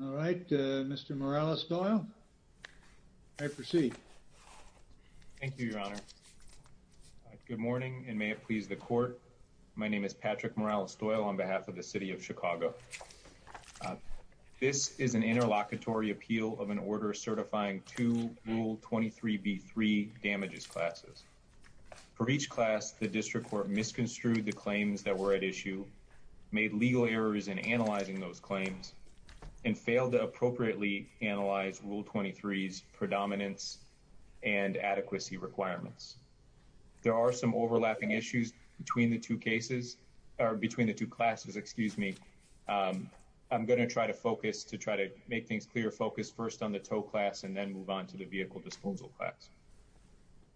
All right Mr. Morales-Doyle I proceed. Thank you your honor. Good morning and may it please the court. My name is Patrick Morales-Doyle on behalf of the City of Chicago. This is an interlocutory appeal of an order certifying two Rule 23b3 damages classes. For each class the district court misconstrued the claims that were at issue, made legal errors in analyzing those to appropriately analyze Rule 23's predominance and adequacy requirements. There are some overlapping issues between the two cases or between the two classes excuse me. I'm going to try to focus to try to make things clear focus first on the tow class and then move on to the vehicle disposal class.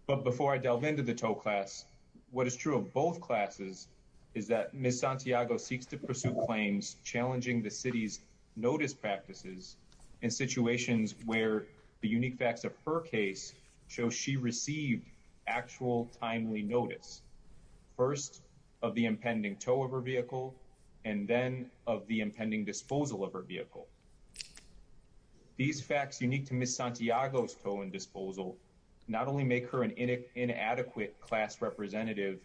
But before I delve into the tow class what is true of both classes is that Ms. Santiago seeks to pursue claims challenging the city's notice practices in situations where the unique facts of her case show she received actual timely notice. First of the impending tow of her vehicle and then of the impending disposal of her vehicle. These facts unique to Ms. Santiago's tow and disposal not only make her an inadequate class representative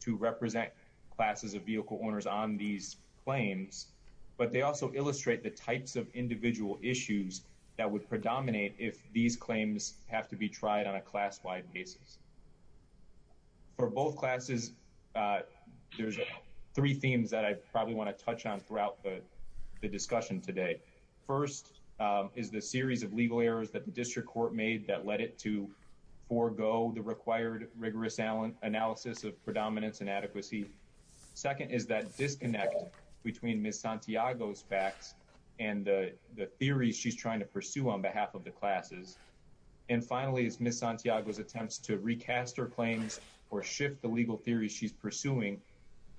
to represent classes of vehicle owners on these claims but they also illustrate the types of individual issues that would predominate if these claims have to be tried on a class-wide basis. For both classes there's three themes that I probably want to touch on throughout the the discussion today. First is the series of legal errors that the district court made that led it to forego the required rigorous analysis of predominance and adequacy. Second is that disconnect between Ms. Santiago's facts and the theories she's trying to pursue on behalf of the classes. And finally is Ms. Santiago's attempts to recast her claims or shift the legal theories she's pursuing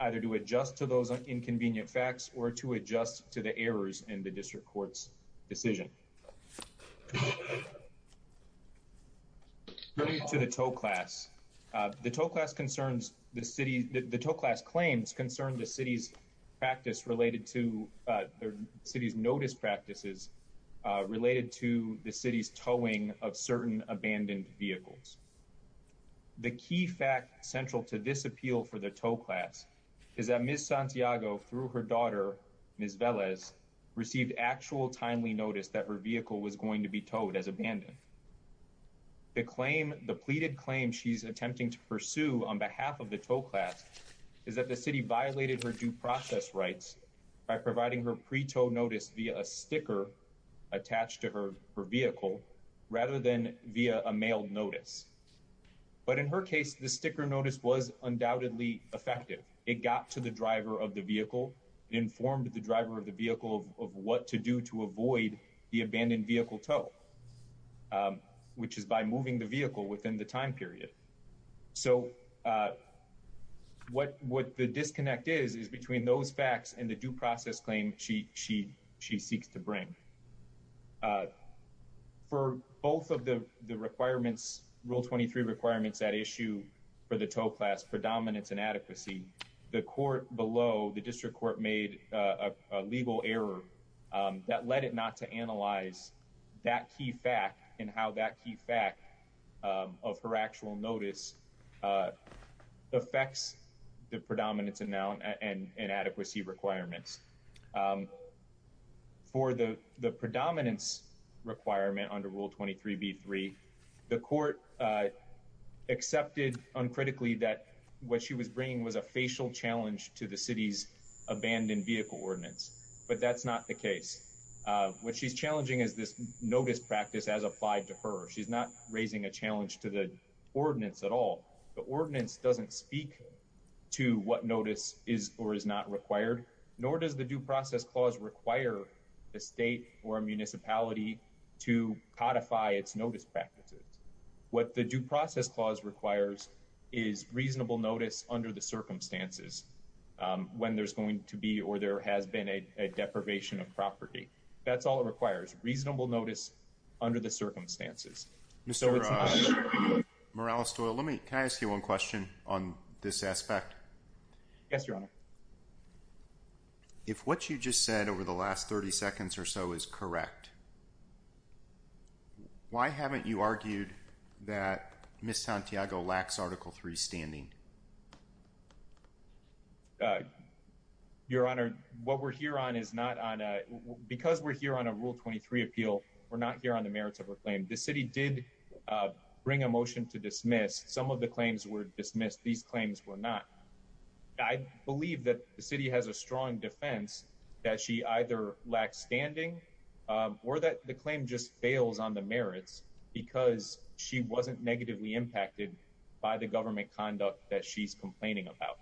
either to adjust to those inconvenient facts or to adjust to the errors in the district court's decision. Turning to the tow class. The tow class concerns the city the tow class claims concern the city's practice related to the city's notice practices related to the city's towing of certain abandoned vehicles. The key fact central to this appeal for the tow class is that Ms. Santiago through her daughter Ms. Velez received actual timely notice that her vehicle was going to be towed as abandoned. The claim the pleaded claim she's of the tow class is that the city violated her due process rights by providing her pre-tow notice via a sticker attached to her her vehicle rather than via a mail notice. But in her case the sticker notice was undoubtedly effective. It got to the driver of the vehicle it informed the driver of the vehicle of what to do to avoid the abandoned vehicle tow which is by moving the vehicle within the time period. So what what the disconnect is is between those facts and the due process claim she she she seeks to bring. For both of the the requirements rule 23 requirements that issue for the tow class predominance and adequacy the court below the district court made a legal error that led it not to analyze that key fact and how that key fact of her actual notice affects the predominance amount and inadequacy requirements. For the the predominance requirement under rule 23b3 the court accepted uncritically that what she was bringing was a facial challenge to the city's abandoned vehicle ordinance but that's not the case. What she's challenging is this notice practice as applied to her. She's not raising a challenge to the ordinance at all. The ordinance doesn't speak to what notice is or is not required nor does the due process clause require the state or a municipality to codify its notice practices. What the due process clause requires is reasonable notice under the circumstances when there's going to be or there has been a deprivation of property. That's all it requires reasonable notice under the circumstances. Mr. Morales-Doyle let me can I ask you one question on this aspect? Yes your honor. If what you just said over the last 30 seconds or so is correct why haven't you argued that Ms. Santiago lacks article 3 standing? Your honor what we're here on is not on a because we're here on a rule 23 appeal we're not here on the merits of her claim. The city did bring a motion to dismiss. Some of the claims were dismissed. These claims were not. I believe that the city has a strong defense that she either lacks standing or that the claim just fails on the merits because she wasn't negatively impacted by the government conduct that she's complaining about.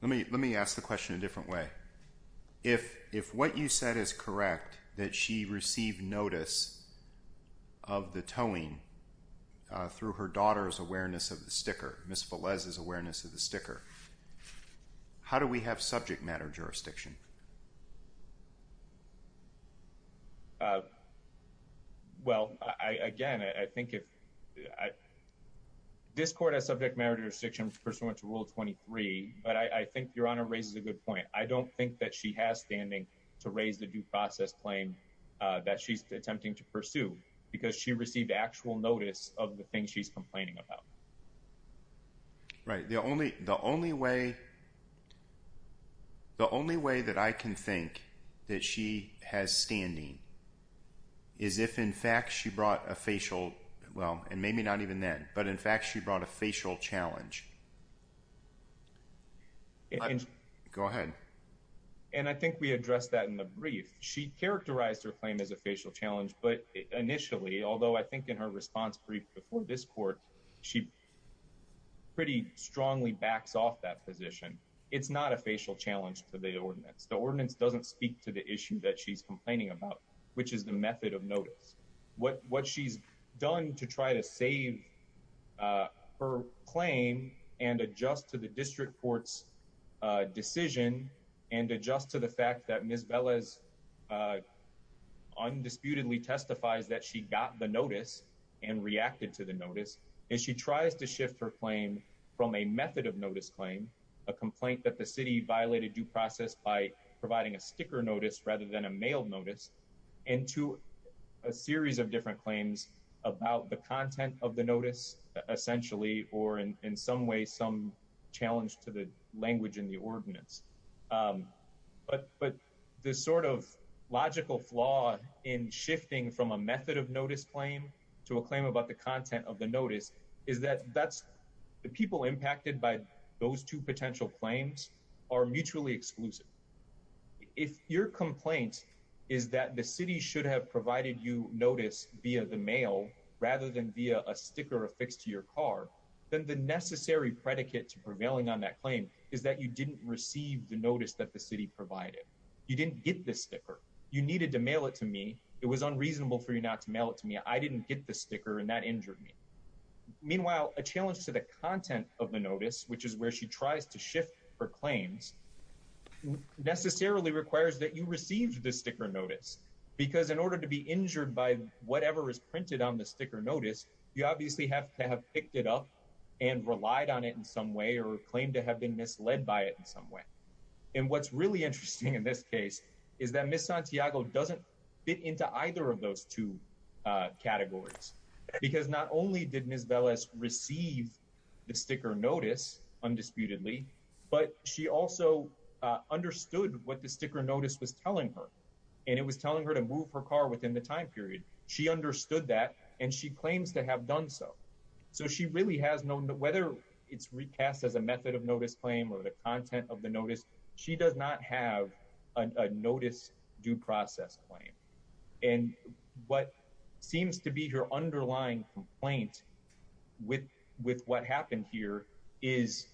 Let me let me ask the question a different way. If if what you said is correct that she received notice of the towing through her daughter's awareness of the sticker Ms. Velez's awareness of the sticker. How do we have subject matter jurisdiction? Well I again I think if I this court has subject matter jurisdiction pursuant to rule 23 but I think your honor raises a good I don't think that she has standing to raise the due process claim that she's attempting to pursue because she received actual notice of the thing she's complaining about. Right the only the only way the only way that I can think that she has standing is if in fact she brought a facial well and maybe not even then but in fact she brought a facial challenge. Go ahead. And I think we addressed that in the brief. She characterized her claim as a facial challenge but initially although I think in her response brief before this court she pretty strongly backs off that position. It's not a facial challenge to the ordinance. The ordinance doesn't speak to the issue that she's complaining about which is the method of notice. What what she's done to try to save her claim and adjust to the district court's decision and adjust to the fact that Ms. Velez undisputedly testifies that she got the notice and reacted to the notice is she tries to shift her claim from a method of notice claim a complaint that the city violated due process by providing a sticker notice rather than a mail notice into a series of different claims about the content of the notice essentially or in some way some challenge to the language in the ordinance. But but the sort of logical flaw in shifting from a method of notice claim to a claim about the content of the notice is that that's the people impacted by those two potential claims are mutually exclusive. If your complaint is that the city should have provided you notice via the mail rather than via a sticker affixed to your car then the necessary predicate to prevailing on that claim is that you didn't receive the notice that the city provided. You didn't get this sticker. You needed to mail it to me. It was unreasonable for you not to mail it to me. I didn't get the sticker and that injured me. Meanwhile a challenge to the content of the notice which is where she tries to shift her claims necessarily requires that you receive the sticker notice because in order to be injured by whatever is printed on the sticker notice you obviously have to have picked it up and relied on it in some way or claimed to have been misled by it in some way. And what's really interesting in this case is that Ms. Santiago doesn't fit into either of those two categories because not only did Ms. Velez receive the sticker notice undisputedly but she also understood what the sticker notice was telling her and it was telling her to move her car within the time period. She understood that and she claims to have done so. So she really has no whether it's recast as a method of notice claim or the content of the notice she does not have a notice due process claim and what seems to be her underlying complaint with what happened here is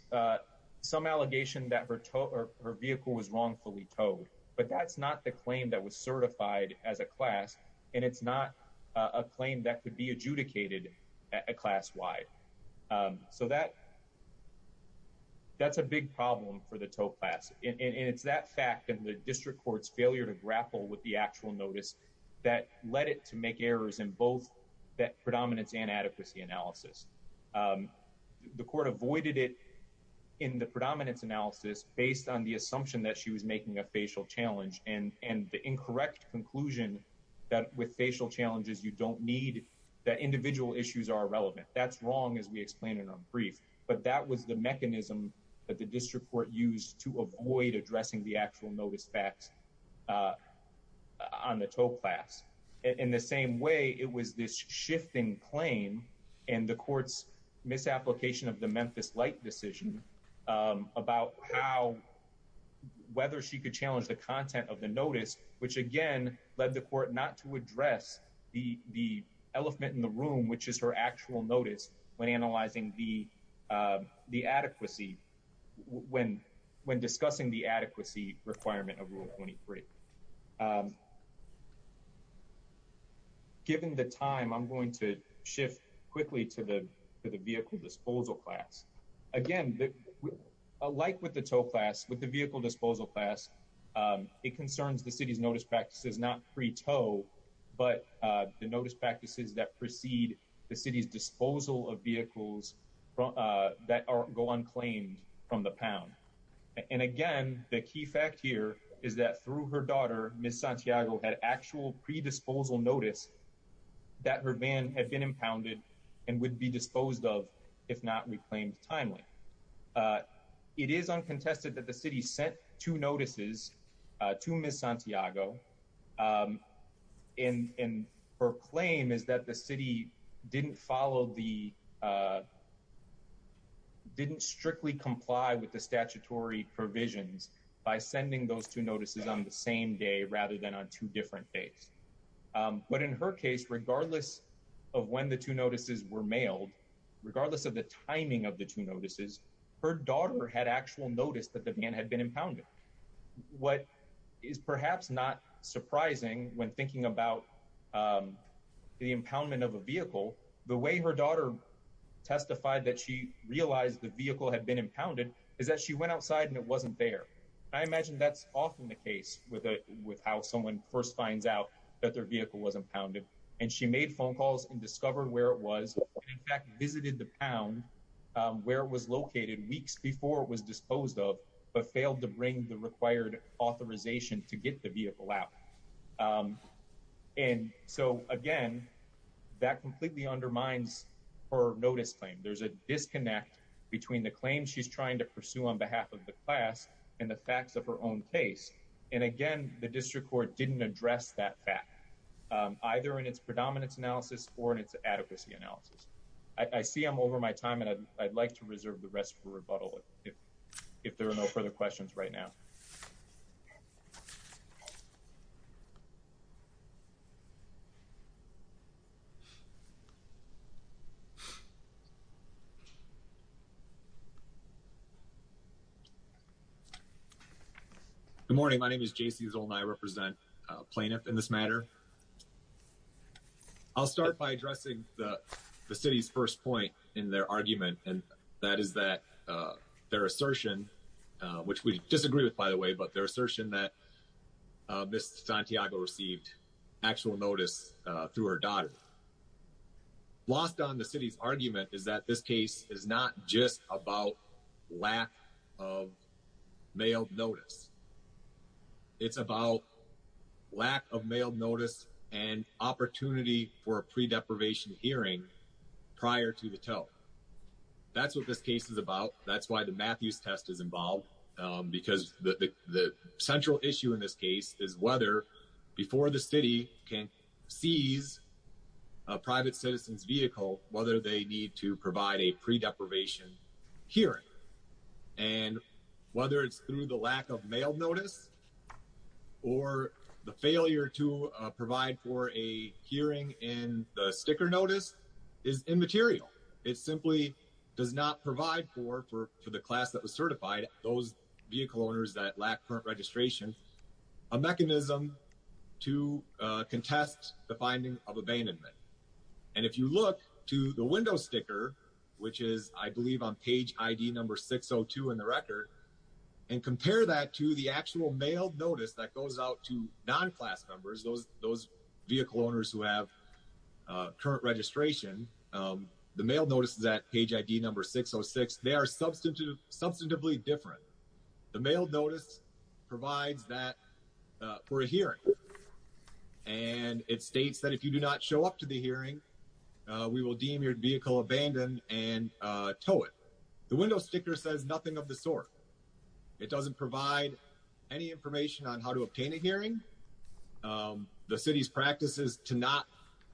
some allegation that her vehicle was wrongfully towed but that's not the claim that was certified as a class and it's not a claim that could be adjudicated class-wide. So that's a big problem for the tow class and it's that fact and the district court's failure to grapple with the actual notice that led it to make errors in both that avoided it in the predominance analysis based on the assumption that she was making a facial challenge and and the incorrect conclusion that with facial challenges you don't need that individual issues are irrelevant. That's wrong as we explained in our brief but that was the mechanism that the district court used to avoid addressing the actual notice facts on the tow class. In the same way it was this decision about how whether she could challenge the content of the notice which again led the court not to address the the elephant in the room which is her actual notice when analyzing the the adequacy when when discussing the adequacy requirement of rule 23. Given the time I'm going to shift quickly to the vehicle disposal class. Again like with the tow class with the vehicle disposal class it concerns the city's notice practices not pre-tow but the notice practices that precede the city's disposal of vehicles from that are go on claim from the pound and again the key fact here is that through her daughter Ms. Santiago had actual pre-disposal notice that her van had been impounded and would be disposed of if not reclaimed timely. It is uncontested that the city sent two notices to Ms. Santiago and her claim is that the city didn't follow the didn't strictly comply with the statutory provisions by sending those two notices on the same day rather than on two different days. But in her case regardless of when the two notices were mailed regardless of the timing of the two notices her daughter had actual notice that the van had been impounded. What is perhaps not surprising when thinking about the impoundment of a vehicle the way her daughter testified that she realized the vehicle had been impounded is that she went outside and it wasn't there. I imagine that's often the case with how someone first finds out that their vehicle wasn't pounded and she made phone calls and discovered where it was in fact visited the pound where it was located weeks before it was disposed of but failed to bring the required authorization to get the vehicle out. And so again that completely undermines her notice claim. There's a disconnect between the claim she's trying to pursue on behalf of the class and the facts of her own case and again the district court didn't address that fact either in its predominance analysis or in its adequacy analysis. I see I'm over my time and I'd like to reserve the rest for rebuttal if if there are no further questions right now. Good morning my name is J.C. Zoll and I represent a plaintiff in this matter. I'll start by addressing the the city's first point in their argument and that is that their assertion which we disagree with by the way but their assertion that Ms. Santiago received actual notice through her daughter. Lost on the city's argument is that this case is not just about lack of mailed notice. It's about lack of mailed notice and opportunity for a pre-deprivation hearing prior to the tow. That's what this case is about that's why the Matthews test is involved because the the central issue in this case is whether before the city can seize a private citizen's vehicle whether they need to provide a pre-deprivation hearing and whether it's through the lack of mail notice or the failure to provide for a hearing in the sticker notice is immaterial. It simply does not provide for for the class that was certified those vehicle owners that lack current registration a mechanism to contest the finding of a window sticker which is I believe on page id number 602 in the record and compare that to the actual mailed notice that goes out to non-class members those those vehicle owners who have current registration. The mailed notice is at page id number 606. They are substantively different. The mailed notice provides that for a hearing and it states that if you do not show up to the hearing we will deem your vehicle abandoned and tow it. The window sticker says nothing of the sort. It doesn't provide any information on how to obtain a hearing. The city's practice is to not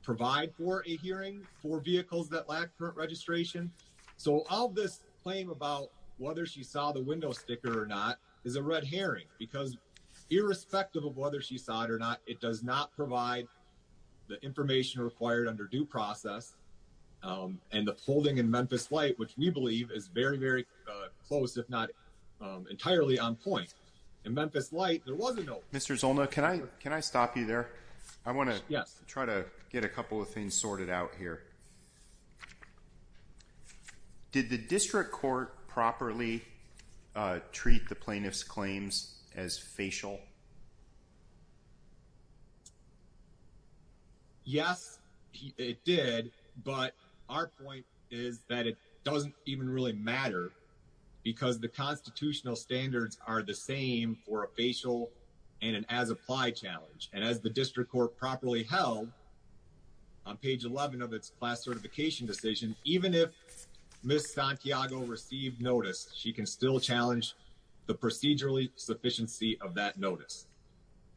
provide for a hearing for vehicles that lack current registration so all this claim about whether she saw the window sticker or not is a red herring because irrespective of whether she saw it or not it does not provide any information on how to obtain a hearing. There is no information required under due process and the holding in Memphis Light which we believe is very very close if not entirely on point. In Memphis Light there wasn't no. Mr. Zolna can I can I stop you there? I want to try to get a couple of things sorted out here. Did the district court properly treat the plaintiff's claims as facial? Yes it did but our point is that it doesn't even really matter because the constitutional standards are the same for a facial and an as applied challenge and as the district court properly held on page 11 of its class certification decision even if Ms. Santiago received notice she can still challenge the procedurally sufficiency of that notice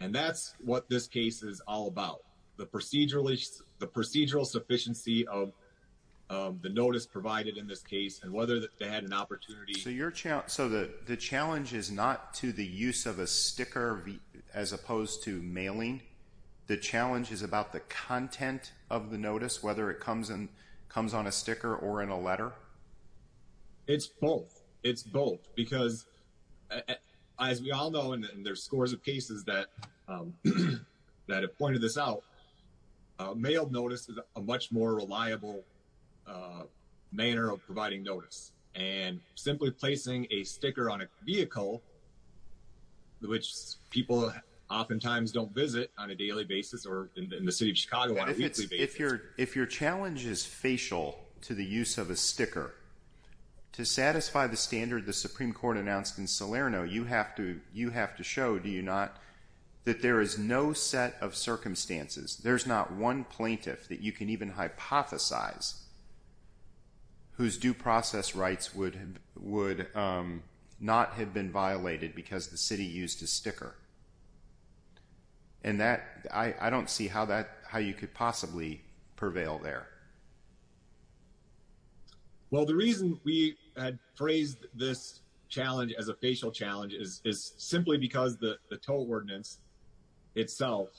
and that's what this case is all about. The procedurally the procedural sufficiency of the notice provided in this case and whether they had an opportunity. So your challenge so the the challenge is not to the use of a sticker as opposed to mailing. The challenge is about the content of the notice whether it comes and comes on a sticker or in a letter? It's both. It's both because as we all know and there's scores of cases that that have pointed this out. A mailed notice is a much more reliable manner of providing notice and simply placing a sticker on a vehicle which people oftentimes don't visit on a daily basis or in the city of Chicago on a weekly basis. If your if your challenge is facial to the use of a sticker to satisfy the standard the supreme court announced in Salerno you have to you have to show do you not that there is no set of circumstances there's not one plaintiff that you can even hypothesize whose due process rights would have would not have been violated because the city used a sticker and that I I don't see how that how you could possibly prevail there. Well the reason we had phrased this challenge as a facial challenge is is simply because the the tow ordinance itself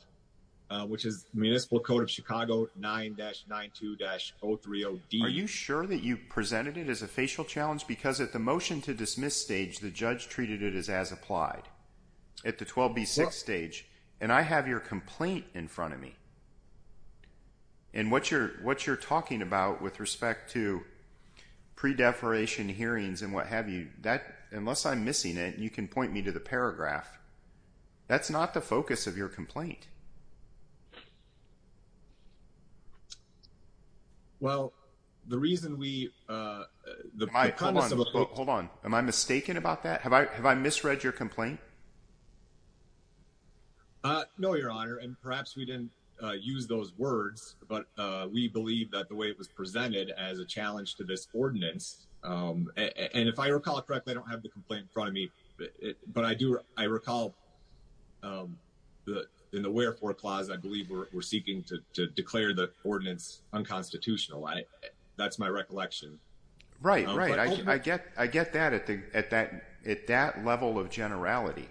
which is municipal code of Chicago 9-92-030D Are you sure that you presented it as a facial challenge because at the motion to dismiss stage the judge treated it as as applied at the 12b6 stage and I have your complaint in front of me and what you're what you're talking about with respect to pre-deferration hearings and what have you that unless I'm missing it you can Well the reason we hold on am I mistaken about that have I have I misread your complaint uh no your honor and perhaps we didn't use those words but uh we believe that the way it was presented as a challenge to this ordinance um and if I recall it correctly I don't have the complaint in front of me but but I do I recall um the the wherefore clause I believe we're seeking to to declare the ordinance unconstitutional I that's my recollection Right right I get I get that at the at that at that level of generality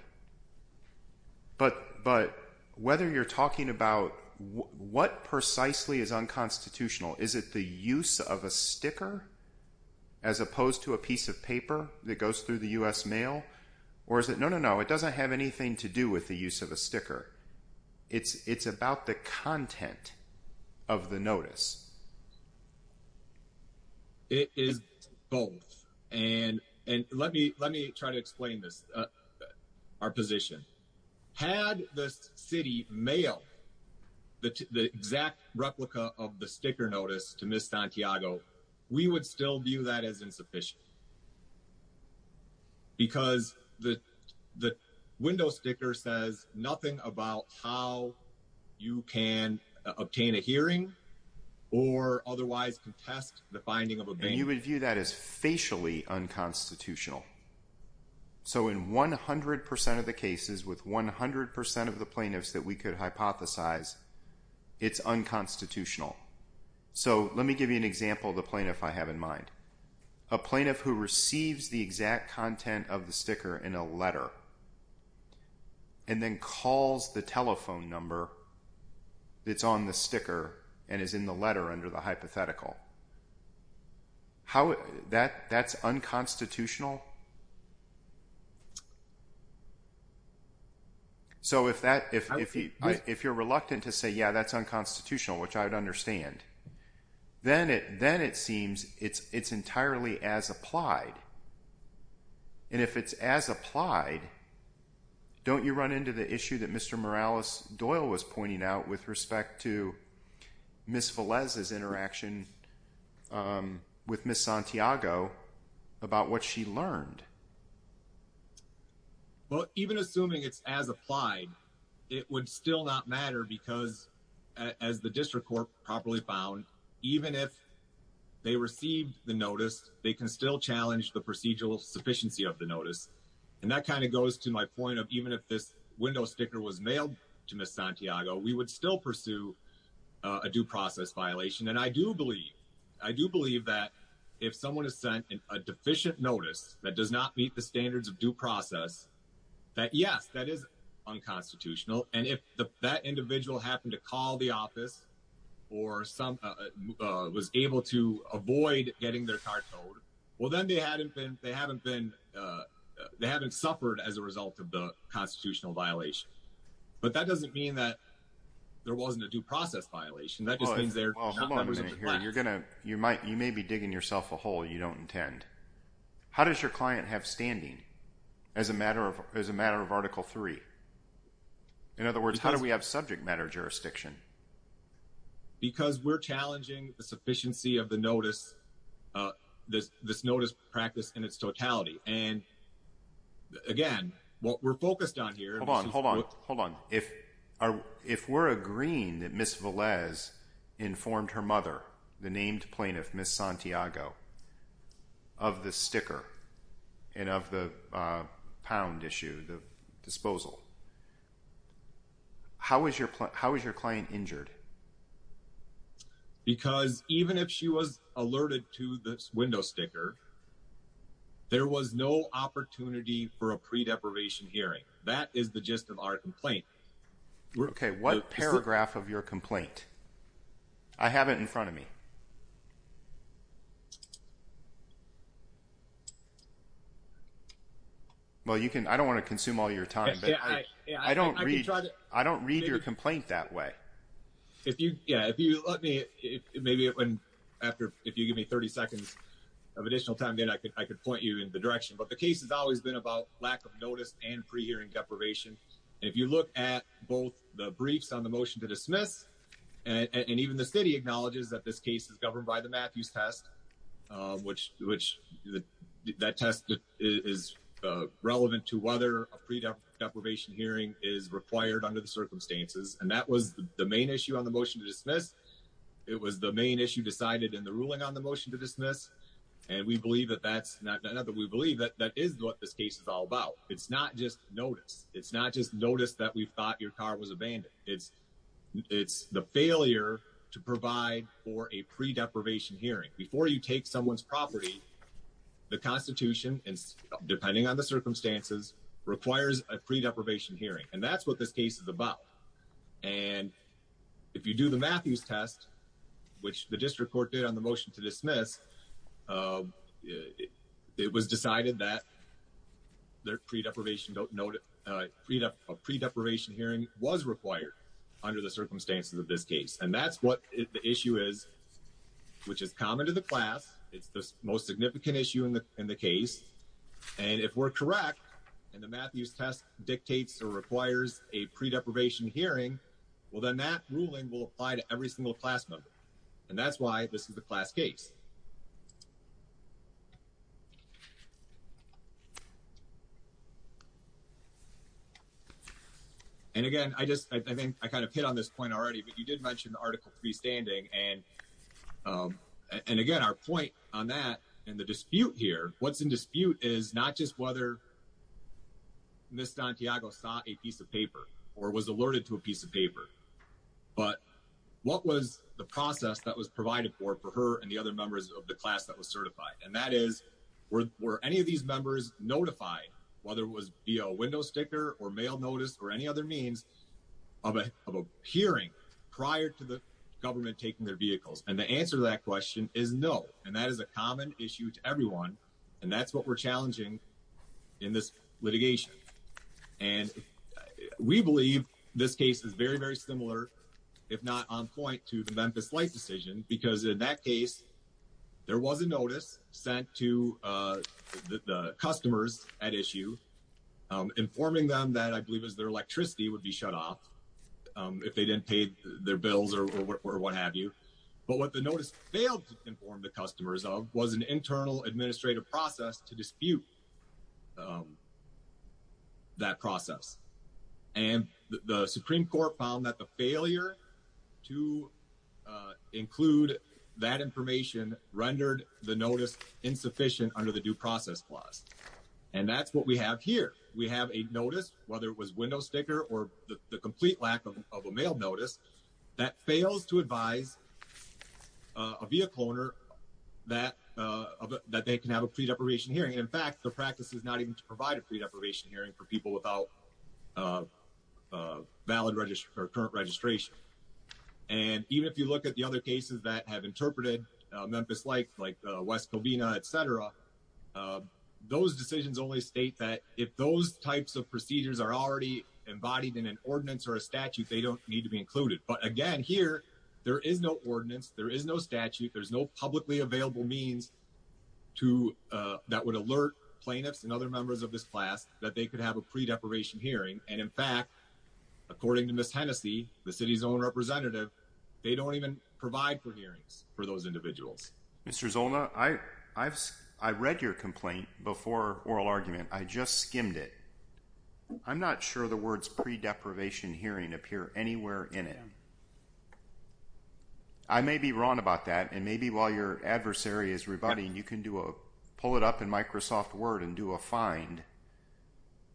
but but whether you're talking about what precisely is unconstitutional is it the use of a sticker as opposed to a piece of paper that goes through the U.S. mail or is it no no it doesn't have anything to do with the use of a sticker it's it's about the content of the notice it is both and and let me let me try to explain this our position had the city mail the the exact replica of the sticker notice to miss Santiago we would still view that as insufficient because the the window sticker says nothing about how you can obtain a hearing or otherwise contest the finding of a game you would view that as facially unconstitutional so in 100 of the cases with 100 of the plaintiffs that we could hypothesize it's unconstitutional so let me give you example the plaintiff I have in mind a plaintiff who receives the exact content of the sticker in a letter and then calls the telephone number that's on the sticker and is in the letter under the hypothetical how that that's unconstitutional so if that if if you're reluctant to say yeah that's unconstitutional which I understand then it then it seems it's it's entirely as applied and if it's as applied don't you run into the issue that Mr. Morales Doyle was pointing out with respect to Miss Velez's interaction with Miss Santiago about what she learned well even assuming it's as applied it would still not matter because as the district court properly found even if they received the notice they can still challenge the procedural sufficiency of the notice and that kind of goes to my point of even if this window sticker was mailed to Miss Santiago we would still pursue a due process violation and I do believe I do believe that if someone is sent a deficient notice that does not meet the standards of due process that yes that is unconstitutional and if that individual happened to call the office or some uh was able to avoid getting their car towed well then they hadn't been they haven't been uh they haven't suffered as a result of the constitutional violation but that doesn't mean that there wasn't a due process violation that just means they're you're gonna you might you may be digging yourself a hole you don't intend how does your client have standing as a matter of as a matter of article three in other words how do we have subject matter jurisdiction because we're challenging the sufficiency of the notice uh this this notice practice in its totality and again what we're focused on here hold on hold on hold on if our if we're agreeing that Miss Velez informed her mother the named plaintiff Miss Santiago of the sticker and of the uh pound issue the disposal how was your how was your client injured because even if she was alerted to this window sticker there was no opportunity for a pre-deprivation hearing that is the gist of our complaint okay what paragraph of your complaint I have it in front of me well you can I don't want to consume all your time but I don't read I don't read your complaint that way if you yeah if you let me if maybe when after if you give me 30 seconds of additional time then I could I could point you in the direction but the case has always been about lack of notice and pre-hearing deprivation if you look at both the briefs on the motion to dismiss and even the city acknowledges that this case is governed by the Matthews test which which that test is relevant to whether a pre-deprivation hearing is required under the circumstances and that was the main issue on the motion to dismiss it was the main issue decided in the ruling on the motion to dismiss and we believe that that's not another we believe that that is what this case is all about it's not just notice it's not just notice that we thought your car was abandoned it's it's the failure to provide for a pre-deprivation hearing before you take someone's property the constitution and depending on the circumstances requires a pre-deprivation hearing and that's what this case is about and if you do the Matthews test which the district court did on the motion to dismiss um it was decided that their pre-deprivation don't note uh freedom of pre-deprivation hearing was required under the circumstances of this case and that's what the issue is which is common to the class it's the most significant issue in the in the case and if we're correct and the Matthews test dictates or requires a pre-deprivation hearing well then that ruling will apply to every single class and that's why this is the class case and again i just i think i kind of hit on this point already but you did mention the article freestanding and um and again our point on that and the dispute here what's in dispute is not just whether miss santiago saw a piece of paper or was alerted to a piece of paper but what was the process that was provided for for her and the other members of the class that was certified and that is were were any of these members notified whether it was via a window sticker or mail notice or any other means of a of a hearing prior to the government taking their vehicles and the answer to that question is no and that is a common issue to everyone and that's what we're challenging in this litigation and we believe this case is very very similar if not on point to the memphis light decision because in that case there was a notice sent to uh the customers at issue informing them that i believe is their electricity would be shut off if they didn't pay their bills or what have you but what the notice failed to inform the customers of was an internal administrative process to dispute um that process and the supreme court found that the failure to include that information rendered the notice insufficient under the due process clause and that's what we have here we have a notice whether it was window sticker or the complete lack of a mail notice that fails to advise a vehicle owner that uh that they can have a pre-deprivation hearing in fact the practice is not even to provide a pre-deprivation hearing for people without uh valid register or current registration and even if you look at the other cases that have interpreted memphis like like west covina etc those decisions only state that if those types of procedures are already embodied in an ordinance or a statute they don't need to be included but again here there is no ordinance there is no statute there's no publicly available means to uh that would alert plaintiffs and other members of this class that they could have a pre-deprivation hearing and in fact according to miss hennessey the city's own representative they don't even provide for hearings for those individuals mr zolna i i've i read your complaint before oral argument i just skimmed it i'm not sure the words pre-deprivation hearing appear anywhere in it i may be wrong about that and maybe while your adversary is rebutting you can do a pull it up in microsoft word and do a find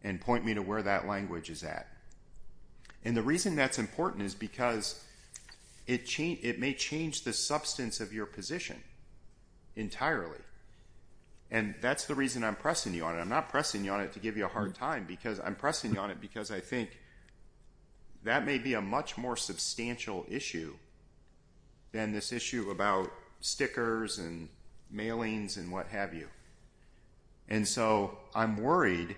and point me to where that language is at and the reason that's important is because it changed it may change the substance of your position entirely and that's the reason i'm pressing you on it i'm not pressing you on it to give you a hard time because i'm pressing you on it because i think that may be a much more substantial issue than this issue about stickers and mailings and what have you and so i'm worried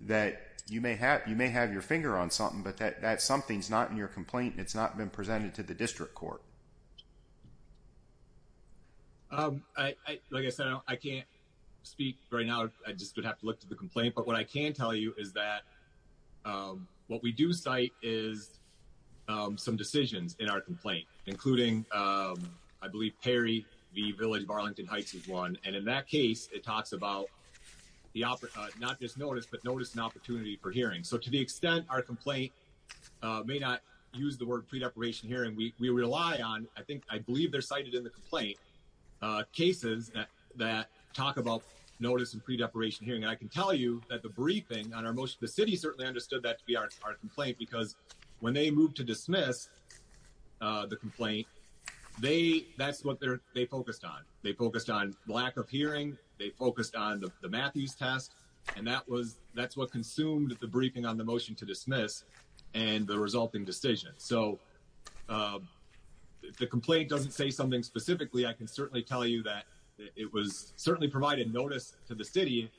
that you may have you may have your finger on something but that that something's not in your complaint it's not been presented to the district court um i like i said i can't speak right now i just would have to look to the what we do cite is some decisions in our complaint including um i believe perry v village of arlington heights is one and in that case it talks about the opera not just notice but notice an opportunity for hearing so to the extent our complaint uh may not use the word pre-deprivation hearing we we rely on i think i believe they're cited in the complaint uh cases that talk about notice and pre-deprivation hearing i can tell you that the briefing on our motion the city certainly understood that to be our complaint because when they moved to dismiss uh the complaint they that's what they're they focused on they focused on lack of hearing they focused on the matthews test and that was that's what consumed the briefing on the motion to dismiss and the resulting decision so um if the complaint doesn't say something specifically i can certainly tell you that it was certainly provided notice to the city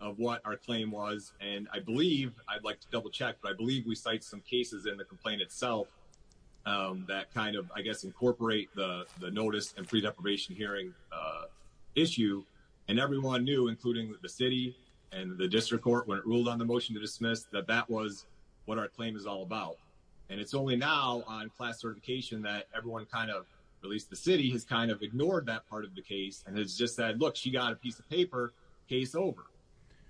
of what our claim was and i believe i'd like to double check but i believe we cite some cases in the complaint itself um that kind of i guess incorporate the the notice and pre-deprivation hearing uh issue and everyone knew including the city and the district court when it ruled on the motion to dismiss that that was what our claim is all about and it's only now on class certification that everyone kind of at least the city has kind of ignored that part of the case and has just said look she got a piece of paper case over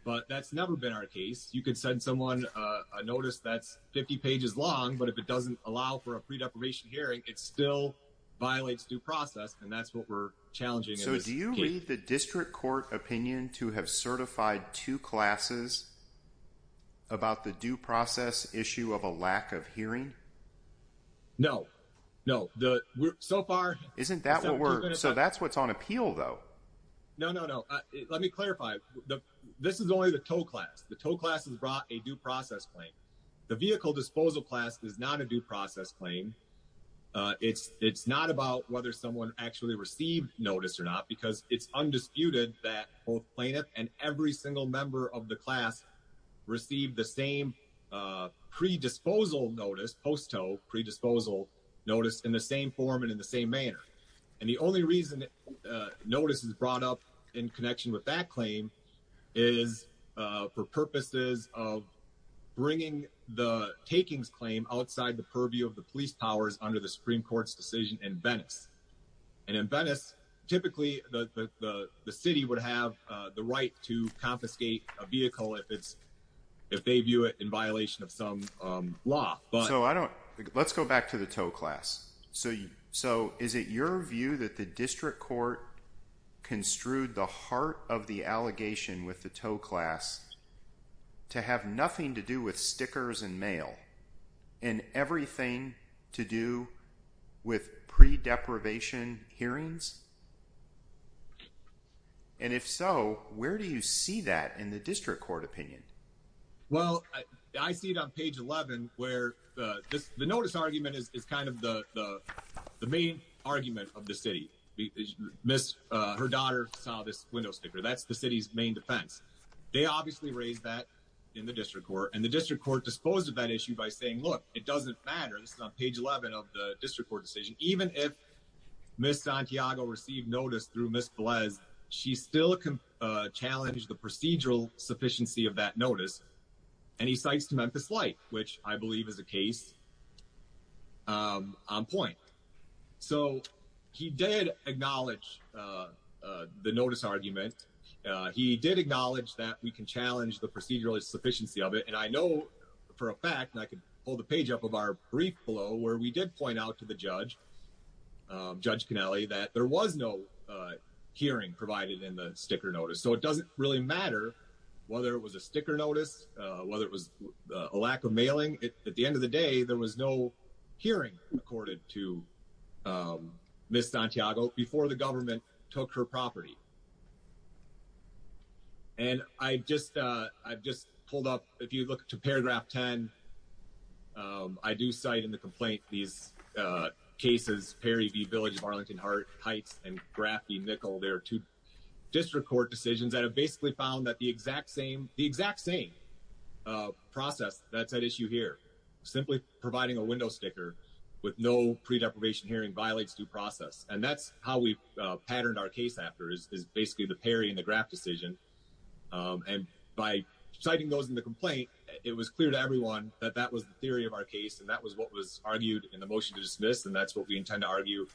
but that's never been our case you could send someone a notice that's 50 pages long but if it doesn't allow for a pre-deprivation hearing it still violates due process and that's what we're challenging so do you read the district court opinion to have certified two classes about the due process issue of a lack of hearing no no the so far isn't that what we're so that's what's on appeal though no no no let me clarify the this is only the tow class the tow class has brought a due process claim the vehicle disposal class is not a due process claim uh it's it's not about whether someone actually received notice or not because it's undisputed that both plaintiff and every single member of the class received the same uh pre-disposal notice post-toe pre-disposal notice in the same form and in the same manner and the only reason uh notice is brought up in connection with that claim is uh for purposes of bringing the takings claim outside the purview of the police powers under the supreme court's decision in venice and in venice typically the the city would have uh the right to confiscate a vehicle if it's if they view it in violation of some um law but so i don't let's go back to the tow class so so is it your view that the district court construed the heart of the allegation with the tow class to have nothing to do with stickers and mail and everything to do with pre-deprivation hearings and if so where do you see that in the district court opinion well i see it on page 11 where the this the notice argument is kind of the the the main argument of the city miss uh her daughter saw this window sticker that's the city's main defense they obviously raised that in the district court and the district court disposed of that issue by saying look it doesn't matter this is on page 11 of the district court decision even if miss santiago received notice through miss bles she still can challenge the procedural sufficiency of that notice and he cites to memphis light which i believe is a case um on point so he did acknowledge uh the notice argument he did acknowledge that we can challenge the procedural sufficiency of it and i know for a fact i could pull the page up of our prequel where we did point out to the judge um judge cannelli that there was no uh hearing provided in the sticker notice so it doesn't really matter whether it was a sticker notice uh whether it was a lack of mailing it at the end of the day there was no hearing accorded to um miss santiago before the government took her property and i just uh i've just pulled up if you look to paragraph 10 um i do cite in the complaint these uh cases perry v village of arlington heart heights and graph the nickel there are two district court decisions that have basically found that the exact same the exact same uh process that's at issue here simply providing a window sticker with no pre-deprivation hearing violates due process and that's how we've uh patterned our case after is basically the perry and the graph decision um and by citing those in the complaint it was clear to everyone that that was the theory of our case and that was what was argued in the motion to dismiss and that's what we intend to argue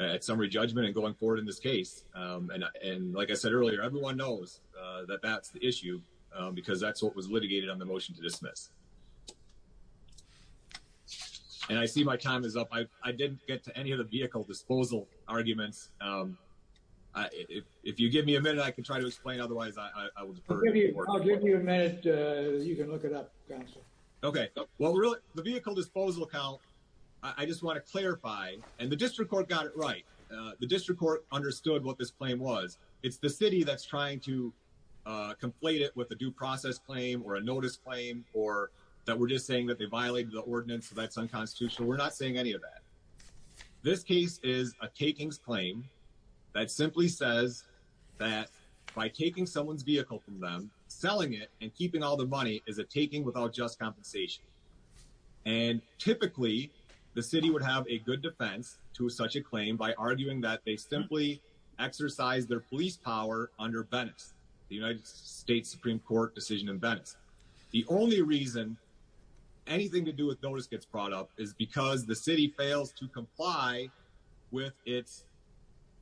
at summary judgment and going forward in this case um and and like i said earlier everyone knows uh that that's the issue because that's what was litigated on the motion to dismiss and i see my time is up i i didn't get to any of the vehicle disposal arguments um i if if you give me a minute i can try to explain otherwise i look it up okay well really the vehicle disposal account i just want to clarify and the district court got it right the district court understood what this claim was it's the city that's trying to uh complete it with a due process claim or a notice claim or that we're just saying that they violated the ordinance so that's unconstitutional we're not saying any of that this case is a takings claim that simply says that by taking someone's vehicle from them selling it and keeping all the money is a taking without just compensation and typically the city would have a good defense to such a claim by arguing that they simply exercise their police power under bennett's the united states supreme court decision in bennett's the only reason anything to do with notice gets brought up is because the city fails to comply with its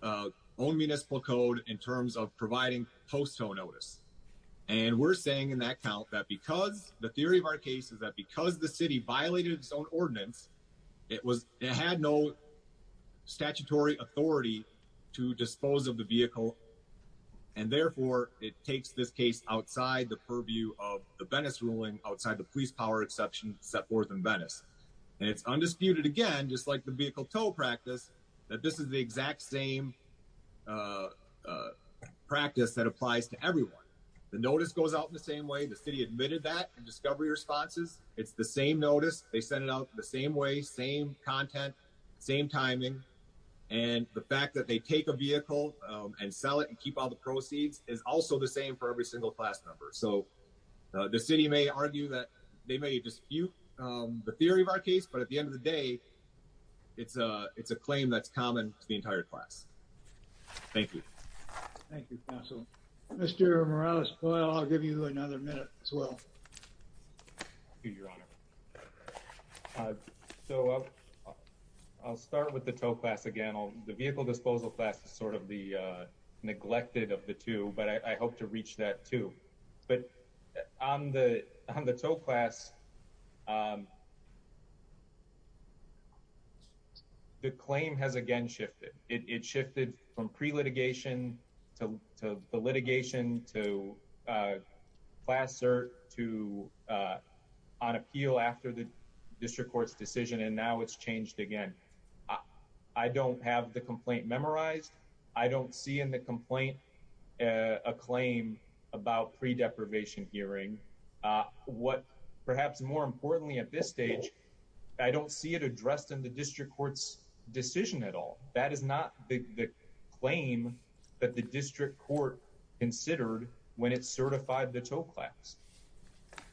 own municipal code in terms of providing postal notice and we're saying in that count that because the theory of our case is that because the city violated its own ordinance it was it had no statutory authority to dispose of the vehicle and therefore it takes this case outside the purview of the bennett's ruling outside the police power exception set forth in bennett's and it's undisputed again just like the vehicle tow practice that this is the exact same practice that applies to everyone the notice goes out in the same way the city admitted that and discovery responses it's the same notice they send it out the same way same content same timing and the fact that they take a vehicle and sell it and keep all the proceeds is also the same for every single class number so the city may argue that they may dispute the theory of our case but at the end of it's a it's a claim that's common to the entire class thank you thank you counsel mr morales coil i'll give you another minute as well so i'll start with the tow class again the vehicle disposal class is sort of the uh neglected of the two but i hope to reach that too but on the on the tow class the claim has again shifted it shifted from pre-litigation to the litigation to class cert to on appeal after the district court's decision and now it's changed again i don't have the complaint memorized i don't see in the complaint a claim about pre-deprivation hearing what perhaps more importantly at this point in time it's not the district court's decision at all that is not the claim that the district court considered when it certified the tow class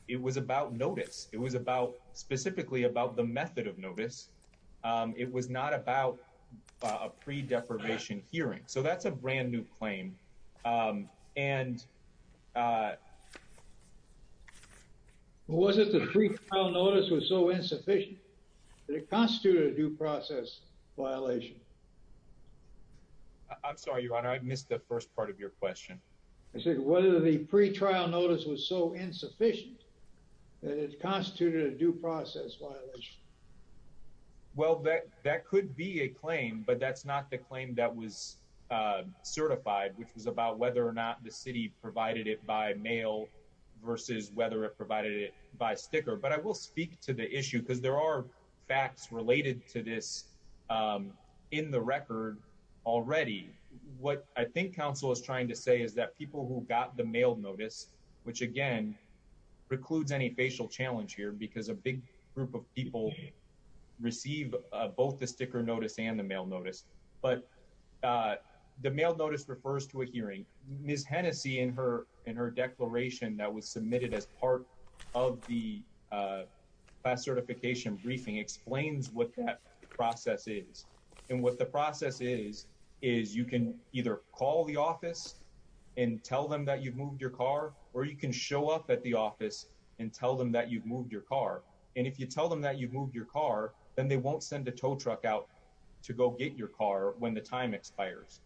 it was about notice it was about specifically about the method of notice it was not about a pre-deprivation hearing so that's a brand new claim um and uh was it the pre-trial notice was so insufficient that it constituted a due process violation i'm sorry your honor i missed the first part of your question i said whether the pre-trial notice was so insufficient that it constituted a due process violation well that that could be a claim but that's not the claim that was uh certified which was about whether or not the city provided it by mail versus whether it provided it by sticker but i will speak to the issue because there are facts related to this um in the record already what i think council is trying to say is that people who got the mail notice which again precludes any facial challenge here because a big group of people receive both the sticker notice and the mail notice but uh the mail notice refers to a hearing ms hennessey in her in her declaration that was submitted as part of the uh class certification briefing explains what that process is and what the process is is you can either call the office and tell them that you've moved your car or you can show up at the office and tell them that you've moved your car and if you tell them that you've moved your car then they won't send a tow truck out to go get your car when the time expires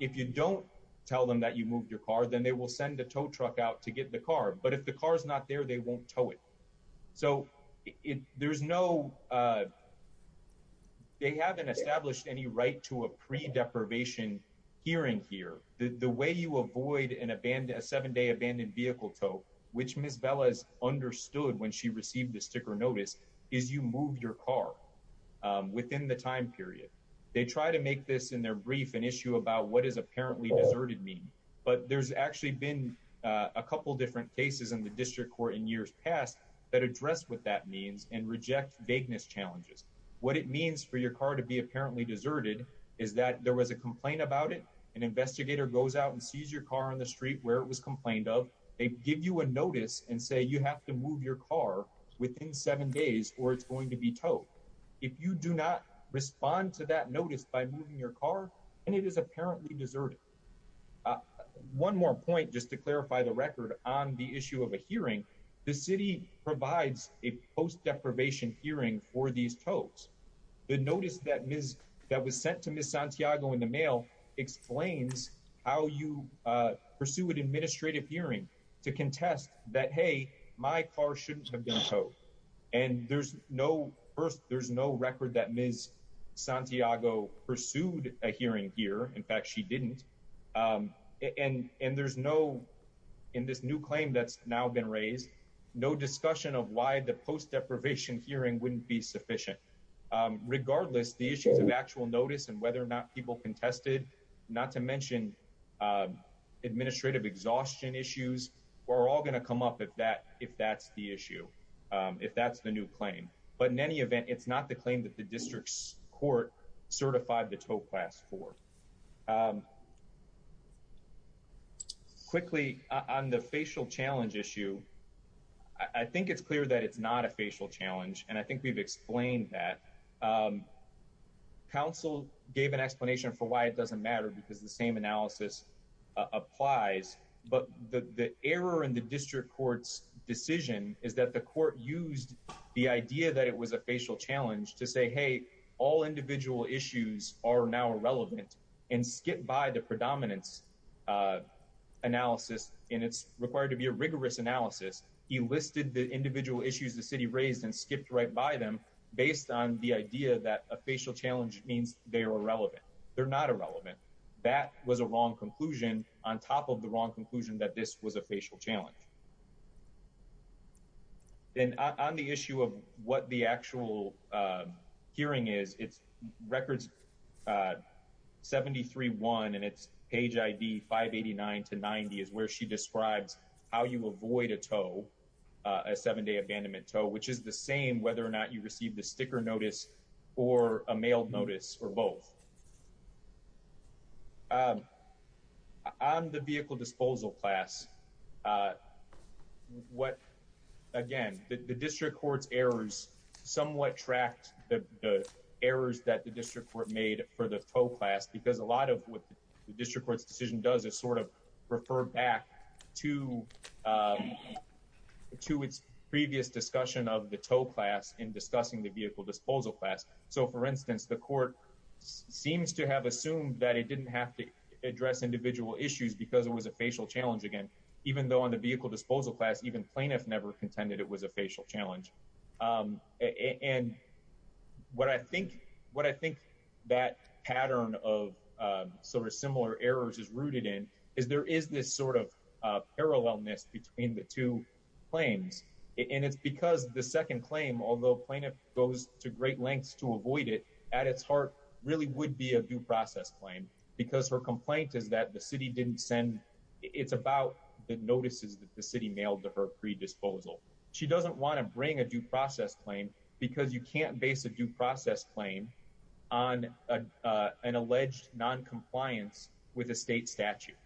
if you don't tell them that you moved your car then they will send a tow truck out to get the car but if the car is not there they won't tow it so it there's no uh they haven't established any right to a pre-deprivation hearing here the way you avoid an abandoned a seven-day abandoned vehicle tow which miss bella has understood when she received the sticker notice is you move your car within the time period they try to make this in their brief an issue about what is apparently deserted mean but there's actually been a couple different cases in the district court in years past that address what that means and reject vagueness challenges what it means for your car to be apparently deserted is that there was a complaint about it an investigator goes out and sees your car on the street where it was complained of they give you a notice and say you have to move your car within seven days or it's going to be towed if you do not respond to that notice by moving your car and it is apparently deserted one more point just to clarify the record on the issue of a hearing the city provides a post deprivation hearing for these tows the notice that miss that was sent to miss santiago in the mail explains how you pursue an administrative hearing to contest that hey my car shouldn't have been towed and there's no first there's no record that miss santiago pursued a hearing here in fact she didn't um and and there's no in this new claim that's now been raised no discussion of why the post deprivation hearing wouldn't be sufficient regardless the issues of actual notice and whether or not people contested not to mention administrative exhaustion issues we're all going to come up with that if that's the issue if that's the new claim but in any event it's not the claim that the district's court certified the tow class for quickly on the facial challenge issue i think it's clear that it's not a facial challenge and i think we've explained that um council gave an explanation for why it doesn't matter because the same analysis applies but the the error in the district court's decision is that the court used the idea that it was a facial challenge to say hey all individual issues are now irrelevant and skip by the predominance analysis and it's required to be a rigorous analysis he listed the individual issues the city raised and skipped right by them based on the idea that a facial challenge means they are irrelevant they're not irrelevant that was a wrong conclusion on top of the wrong conclusion that this was a facial challenge then on the issue of what the actual uh hearing is it's records uh 73-1 and it's page id 589 to 90 is where she describes how you avoid a tow a seven-day abandonment tow which is the same whether or not you receive the sticker notice or a mail notice or both um on the vehicle disposal class uh what again the district court's errors somewhat tracked the the errors that the district court made for the tow class because a lot of what the district court's decision does is sort of refer back to uh to its previous discussion of the tow class in discussing the vehicle disposal class so for instance the court seems to have assumed that it didn't have to address individual issues because it was a facial challenge again even though on the vehicle disposal class even plaintiffs never contended it was a facial challenge um and what i think what i think that pattern of uh sort of similar errors is rooted in is there is this sort of uh parallelness between the two claims and it's because the second claim although plaintiff goes to great lengths to avoid it at its heart really would be a due process claim because her complaint is that the city didn't send it's about the notices that the city mailed to her pre-disposal she doesn't want to bring a due process claim because you can't base a due process claim on an alleged non-compliance with a state statute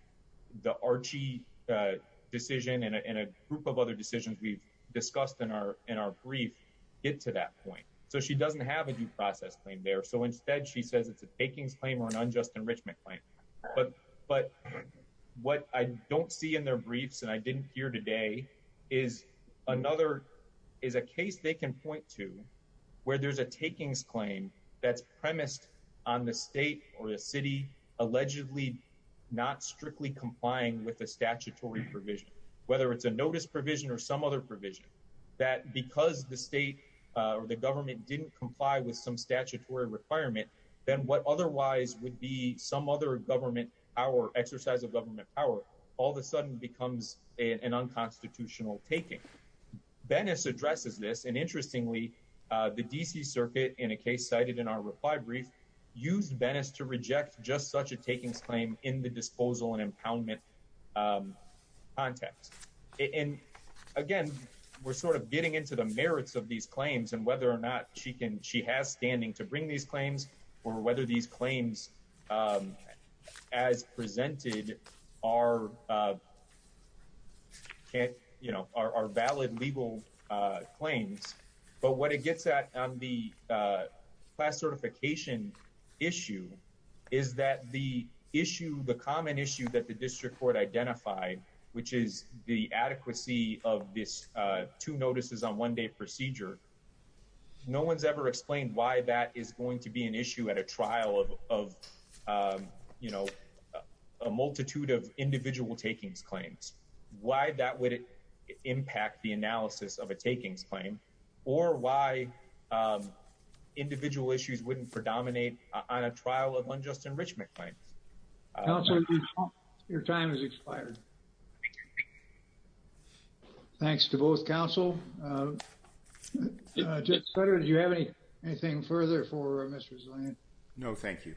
the Archie uh decision and a group of other decisions we've discussed in our in our brief get to that point so she doesn't have a due process claim there so instead she says it's a takings claim or an unjust enrichment claim but but what i don't see in their briefs and i didn't hear today is another is a case they can point to where there's a takings claim that's not strictly complying with the statutory provision whether it's a notice provision or some other provision that because the state or the government didn't comply with some statutory requirement then what otherwise would be some other government our exercise of government power all of a sudden becomes an unconstitutional taking bennis addresses this and interestingly uh the dc circuit in a case cited in our reply brief used venice to reject just such a takings claim in the disposal and impoundment um context and again we're sort of getting into the merits of these claims and whether or not she can she has standing to bring these claims or whether these claims um as presented are uh can't you know are valid legal uh but what it gets at on the uh class certification issue is that the issue the common issue that the district court identified which is the adequacy of this uh two notices on one day procedure no one's ever explained why that is going to be an issue at a trial of of um you know a multitude of individual takings claims why that would impact the analysis of a takings claim or why um individual issues wouldn't predominate on a trial of unjust enrichment claim your time has expired thanks to both council uh uh judge sweater do you have any anything further for mr zillion no thank you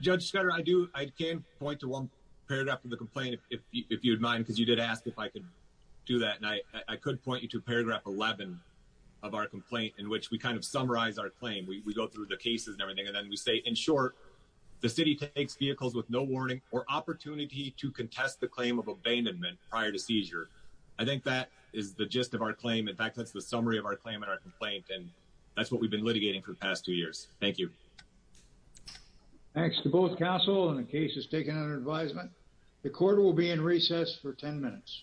judge scatter i do i can point to one paragraph of the complaint if you'd mind because you did ask if i could do that and i i could point you to paragraph 11 of our complaint in which we kind of summarize our claim we go through the cases and everything and then we say in short the city takes vehicles with no warning or opportunity to contest the claim of abandonment prior to seizure i think that is the gist of our claim in fact that's the summary of our claim and our complaint and that's what we've been litigating for the past two years thank you thanks to both council and the case is taken under advisement the court will be in recess for 10 minutes